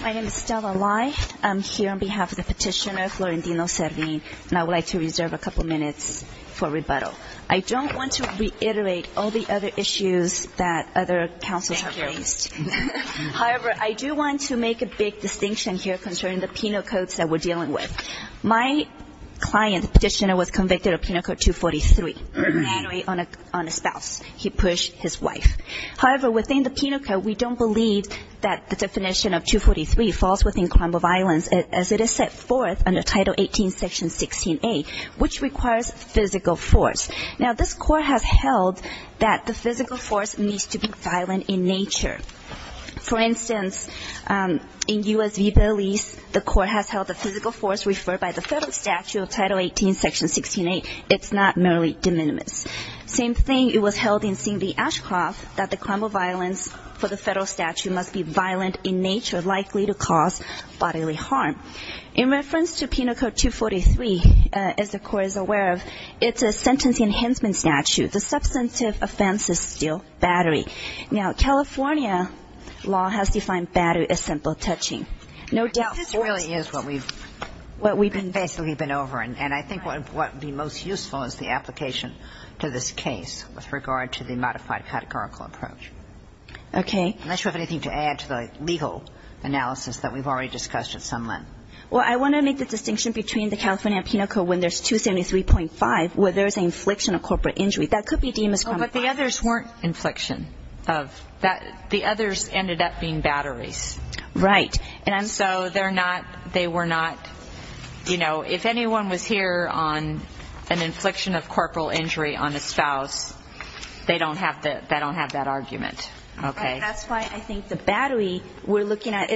My name is Stella Lai. I'm here on behalf of the petitioner, Florentino Servin, and I would like to reserve a couple minutes for rebuttal. I don't want to reiterate all the other issues that other counsels have raised. However, I do want to make a big distinction here concerning the penal codes that we're dealing with. My client, the petitioner, was convicted of Penal Code 243, mandatory on a spouse. He pushed his wife. However, within the Penal Code, we don't believe that the definition of 243 falls within crime of violence as it is set forth under Title 18, Section 16A, which requires physical force. Now, this Court has held that the physical force needs to be violent in nature. For instance, in U.S. v. Belize, the Court has held the physical force referred by the Federal Statute of Title 18, Section 16A, it's not merely de minimis. Same thing, it was held in Singh v. Ashcroft that the crime of violence for the Federal Statute must be violent in nature, likely to cause bodily harm. In reference to Penal Code 243, as the Court is aware of, it's a sentence enhancement statute. The substantive offense is still battery. Now, California law has defined battery as simple touching. No doubt forced. But this really is what we've basically been over. And I think what would be most useful is the application to this case with regard to the modified categorical approach. Okay. Unless you have anything to add to the legal analysis that we've already discussed at some length. Well, I want to make the distinction between the California Penal Code when there's 273.5, where there's an infliction of corporate injury. That could be de minimis crime of violence. Oh, but the others weren't infliction of that. The others ended up being batteries. Right. And so they're not, they were not, you know, if anyone was here on an infliction of corporal injury on a spouse, they don't have that argument. Okay. That's why I think the battery we're looking at,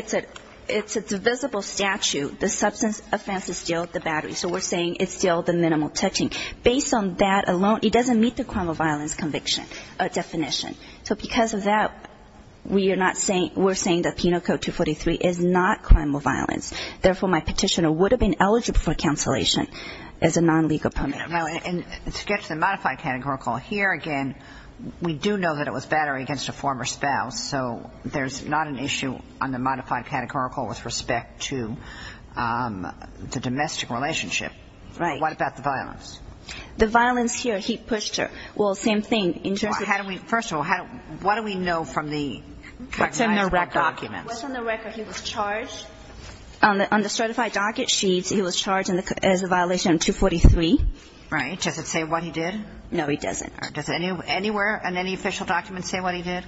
it's a divisible statute. The substantive offense is still the battery. So we're saying it's still the minimal touching. Based on that alone, it doesn't meet the crime of violence conviction definition. So because of that, we are not saying, we're saying that Penal Code 243 is not crime of violence. Therefore, my petitioner would have been eligible for cancellation as a non-legal permit. To get to the modified categorical, here again, we do know that it was battery against a former spouse. So there's not an issue on the modified categorical with respect to the domestic relationship. Right. What about the violence? The violence here, he pushed her. Well, same thing. First of all, what do we know from the recognized documents? What's on the record? He was charged? On the certified docket sheets, he was charged as a violation of 243. Right. Does it say what he did? No, it doesn't. Does it anywhere on any official documents say what he did?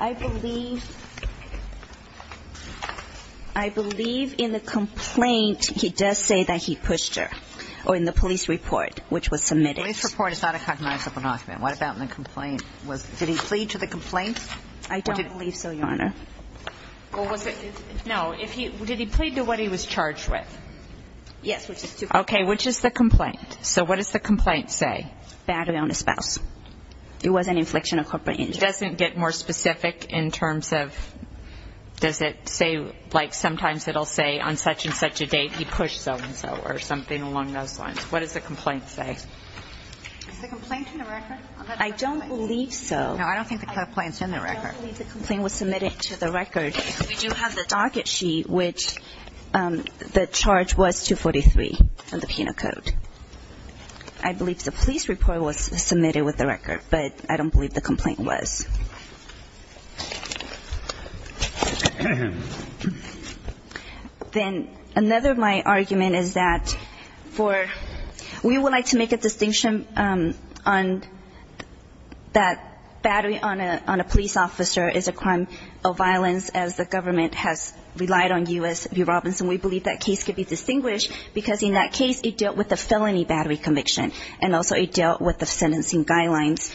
I believe in the complaint, he does say that he pushed her, or in the police report, which was submitted. The police report is not a cognizable document. What about in the complaint? Did he plead to the complaint? I don't believe so, Your Honor. No, did he plead to what he was charged with? Yes. Okay. Which is the complaint? So what does the complaint say? Battery on a spouse. It was an infliction of corporate injury. It doesn't get more specific in terms of, does it say, like, sometimes it will say, on such and such a date, he pushed so-and-so, or something along those lines. What does the complaint say? Is the complaint in the record? I don't believe so. No, I don't think the complaint is in the record. I don't believe the complaint was submitted to the record. We do have the docket sheet, which the charge was 243 in the penal code. I believe the police report was submitted with the record, but I don't believe the complaint was. Then another of my argument is that for we would like to make a distinction on that battery on a police officer is a crime of violence, as the government has relied on U.S. v. Robinson. We believe that case could be distinguished because in that case it dealt with a felony battery conviction, and also it dealt with the sentencing guidelines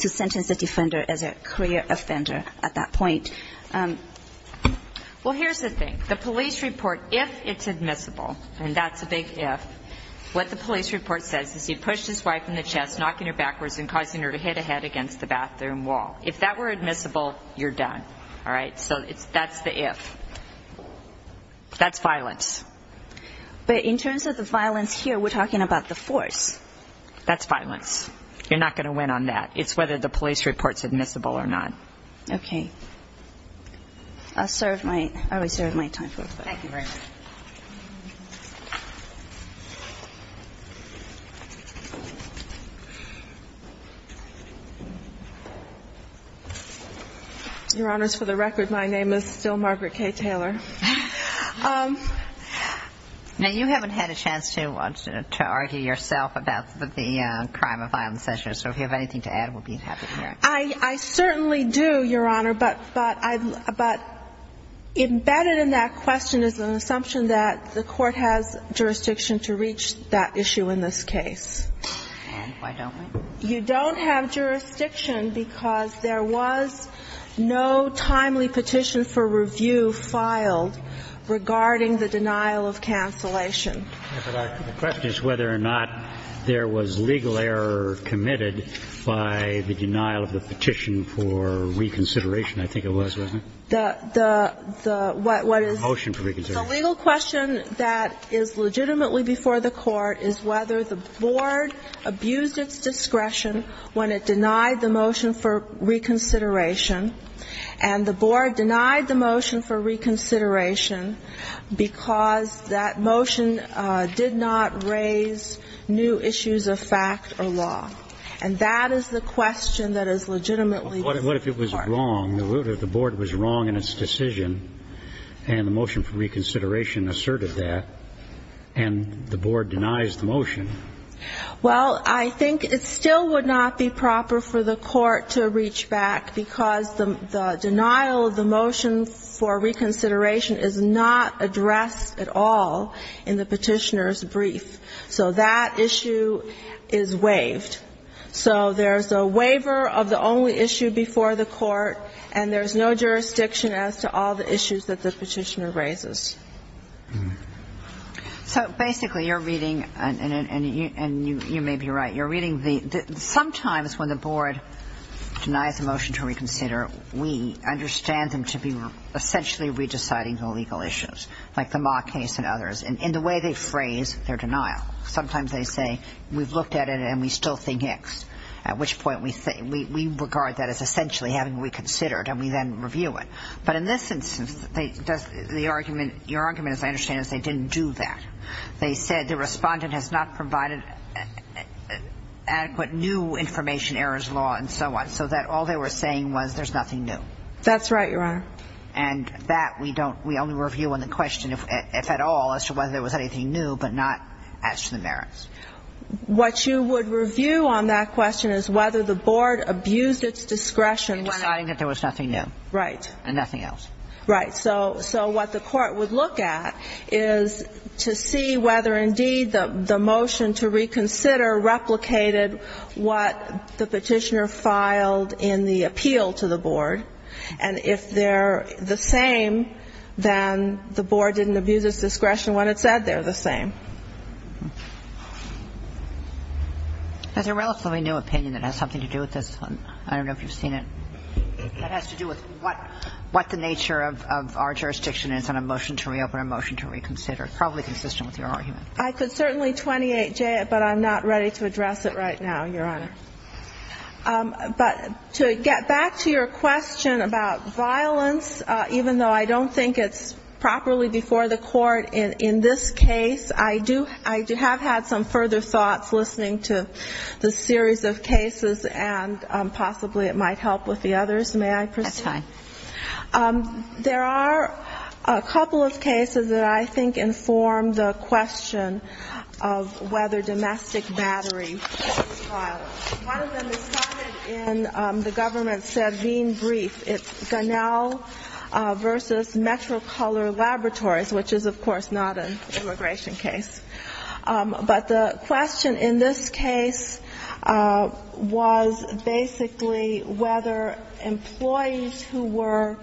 to sentence a defender as a criminal offender. Well, here's the thing. The police report, if it's admissible, and that's a big if, what the police report says is he pushed his wife in the chest, knocking her backwards, and causing her to hit a head against the bathroom wall. If that were admissible, you're done. All right? So that's the if. That's violence. But in terms of the violence here, we're talking about the force. That's violence. You're not going to win on that. It's whether the police report's admissible or not. Okay. I served my time. Thank you very much. Your Honors, for the record, my name is still Margaret K. Taylor. Now, you haven't had a chance to argue yourself about the crime of violence issue, so if you have anything to add, we'll be happy to hear it. I certainly do, Your Honor, but embedded in that question is an assumption that the Court has jurisdiction to reach that issue in this case. And why don't we? You don't have jurisdiction because there was no timely petition for review filed regarding the denial of cancellation. The question is whether or not there was legal error committed by the denial of the petition for reconsideration. I think it was, wasn't it? The legal question that is legitimately before the Court is whether the Board abused its discretion when it denied the motion for reconsideration, and the Board denied the motion for reconsideration because that motion did not raise new issues of fact or law. And that is the question that is legitimately before the Court. What if it was wrong? What if the Board was wrong in its decision and the motion for reconsideration asserted that, and the Board denies the motion? Well, I think it still would not be proper for the Court to reach back because the motion for reconsideration is not addressed at all in the Petitioner's brief. So that issue is waived. So there's a waiver of the only issue before the Court, and there's no jurisdiction as to all the issues that the Petitioner raises. So basically you're reading, and you may be right, you're reading the – sometimes when the Board denies the motion to reconsider, we understand them to be essentially re-deciding the legal issues, like the Ma case and others, in the way they phrase their denial. Sometimes they say, we've looked at it and we still think X, at which point we regard that as essentially having reconsidered, and we then review it. But in this instance, the argument – your argument, as I understand it, is they didn't do that. They said the Respondent has not provided adequate new information, errors law, and so on. So that all they were saying was there's nothing new. That's right, Your Honor. And that we don't – we only review on the question, if at all, as to whether there was anything new, but not as to the merits. What you would review on that question is whether the Board abused its discretion when – In deciding that there was nothing new. Right. And nothing else. Right. So what the Court would look at is to see whether, indeed, the motion to reconsider replicated what the Petitioner filed in the appeal to the Board. And if they're the same, then the Board didn't abuse its discretion when it said they're the same. There's a relatively new opinion that has something to do with this. I don't know if you've seen it. That has to do with what the nature of our jurisdiction is on a motion to reopen, a motion to reconsider, probably consistent with your argument. I could certainly 28J it, but I'm not ready to address it right now, Your Honor. But to get back to your question about violence, even though I don't think it's properly before the Court in this case, I do have had some further thoughts listening to the series of cases, and possibly it might help with the others. May I proceed? That's fine. There are a couple of cases that I think inform the question of whether domestic battery was filed. One of them is cited in the government-said Veen brief. It's Gunnell v. Metrocolor Laboratories, which is, of course, not an immigration case. But the question in this case was basically whether employees who were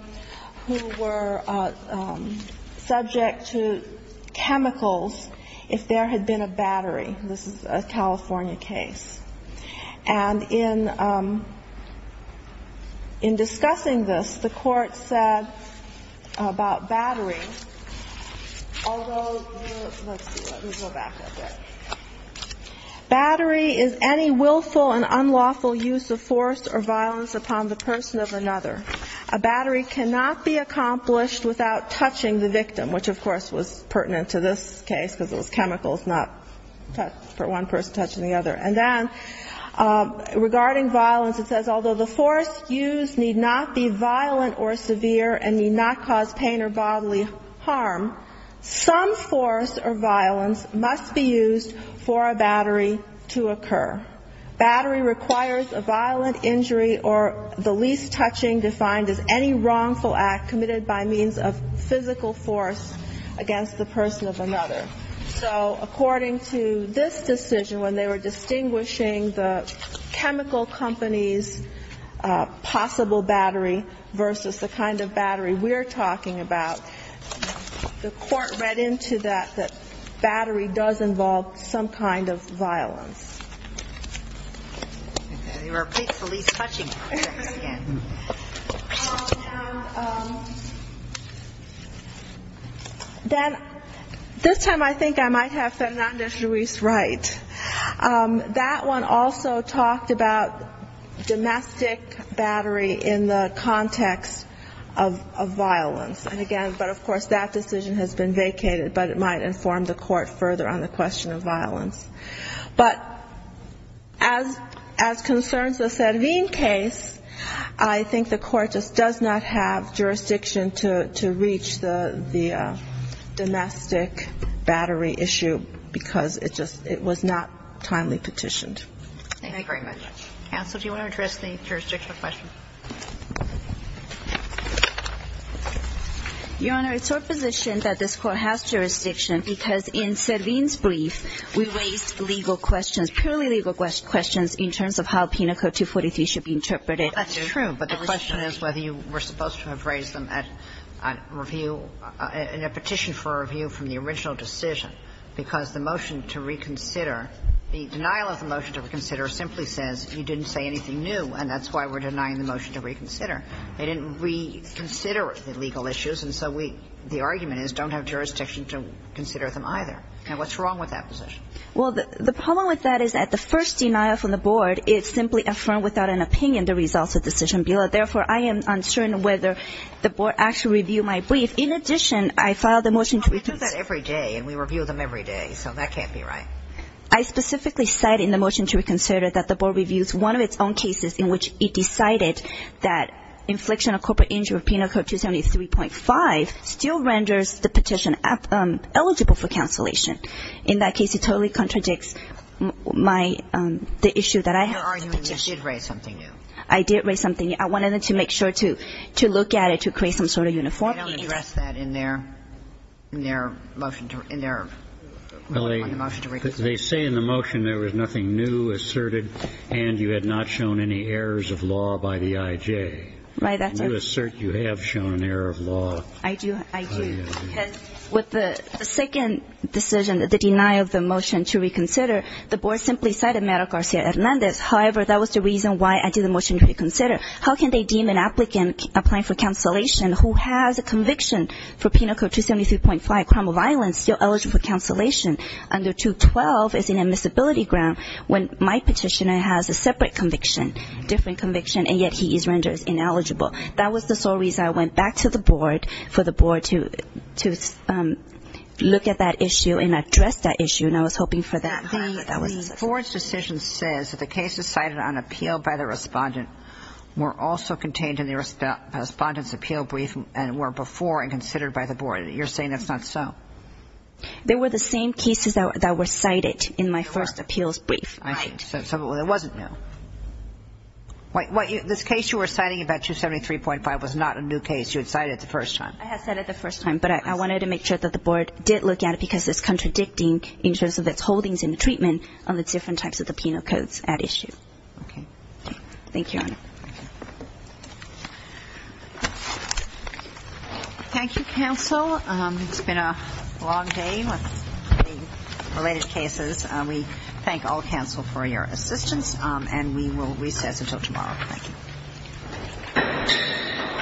subject to chemicals, if there had been a battery. This is a California case. And in discussing this, the Court said about battery, although the, let's see, let me go back a bit. Battery is any willful and unlawful use of force or violence upon the person of another. A battery cannot be accomplished without touching the victim, which, of course, was pertinent to this case, because it was chemicals, not for one person touching the other. And then regarding violence, it says, although the force used need not be violent or severe and need not cause pain or bodily harm, some force or violence must be used for a battery to occur. Battery requires a violent injury or the least touching defined as any wrongful act committed by means of physical force against the person of another. So according to this decision, when they were distinguishing the chemical company's possible battery versus the kind of battery we're talking about, the Court read into that that battery does involve some kind of violence. And they were at least touching the victim again. Then this time I think I might have Fernando Ruiz right. That one also talked about domestic battery in the context of violence. And again, but of course that decision has been vacated, but it might inform the Court further on the question of violence. But as concerns the Cervin case, I think the Court just does not have jurisdiction to reach the conclusion that this is not a timely petition. Thank you very much. Counsel, do you want to address the jurisdictional question? Your Honor, it's our position that this Court has jurisdiction because in Cervin's brief, we raised legal questions, purely legal questions in terms of how Penal Code 243 should be interpreted. Well, that's true, but the question is whether you were supposed to have raised them at review, in a petition for review from the original decision, because the motion to reconsider, the denial of the motion to reconsider simply says you didn't say anything new, and that's why we're denying the motion to reconsider. They didn't reconsider the legal issues, and so we, the argument is don't have jurisdiction to consider them either. Now, what's wrong with that position? Well, the problem with that is that the first denial from the Board, it simply affirmed without an opinion the results of the decision bill. Therefore, I am uncertain whether the Board actually reviewed my brief. In addition, I filed a motion to reconsider. Well, we do that every day, and we review them every day, so that can't be right. I specifically cite in the motion to reconsider that the Board reviews one of its own cases in which it decided that infliction of corporate injury with Penal Code 273.5 still renders the petition eligible for cancellation. In that case, it totally contradicts my, the issue that I have with the petition. But in your argument, you did raise something new. I did raise something new. I wanted to make sure to look at it to create some sort of uniformity. They don't address that in their motion to, in their ruling on the motion to reconsider. Well, they say in the motion there was nothing new asserted, and you had not shown any errors of law by the I.J. Right, that's it. You assert you have shown an error of law. I do. Because with the second decision, the denial of the motion to reconsider, the Board simply cited Mario Garcia-Hernandez. However, that was the reason why I did the motion to reconsider. How can they deem an applicant applying for cancellation who has a conviction for Penal Code 273.5, crime of violence, still eligible for cancellation under 212 as an admissibility ground, when my petitioner has a separate conviction, different conviction, and yet he is rendered ineligible? That was the sole reason I went back to the Board for the Board to look at that issue and address that issue, and I was hoping for that. The Board's decision says that the cases cited on appeal by the Respondent were also contained in the Respondent's appeal brief and were before and considered by the Board. You're saying that's not so? They were the same cases that were cited in my first appeals brief. Right. So it wasn't new. This case you were citing about 273.5 was not a new case. You had cited it the first time. I had cited it the first time, but I wanted to make sure that the Board did look at it because it's contradicting in terms of its holdings and treatment on the different types of the Penal Codes at issue. Thank you, Your Honor. Thank you, counsel. It's been a long day with the related cases. We thank all counsel for your assistance, and we will recess until tomorrow. Thank you.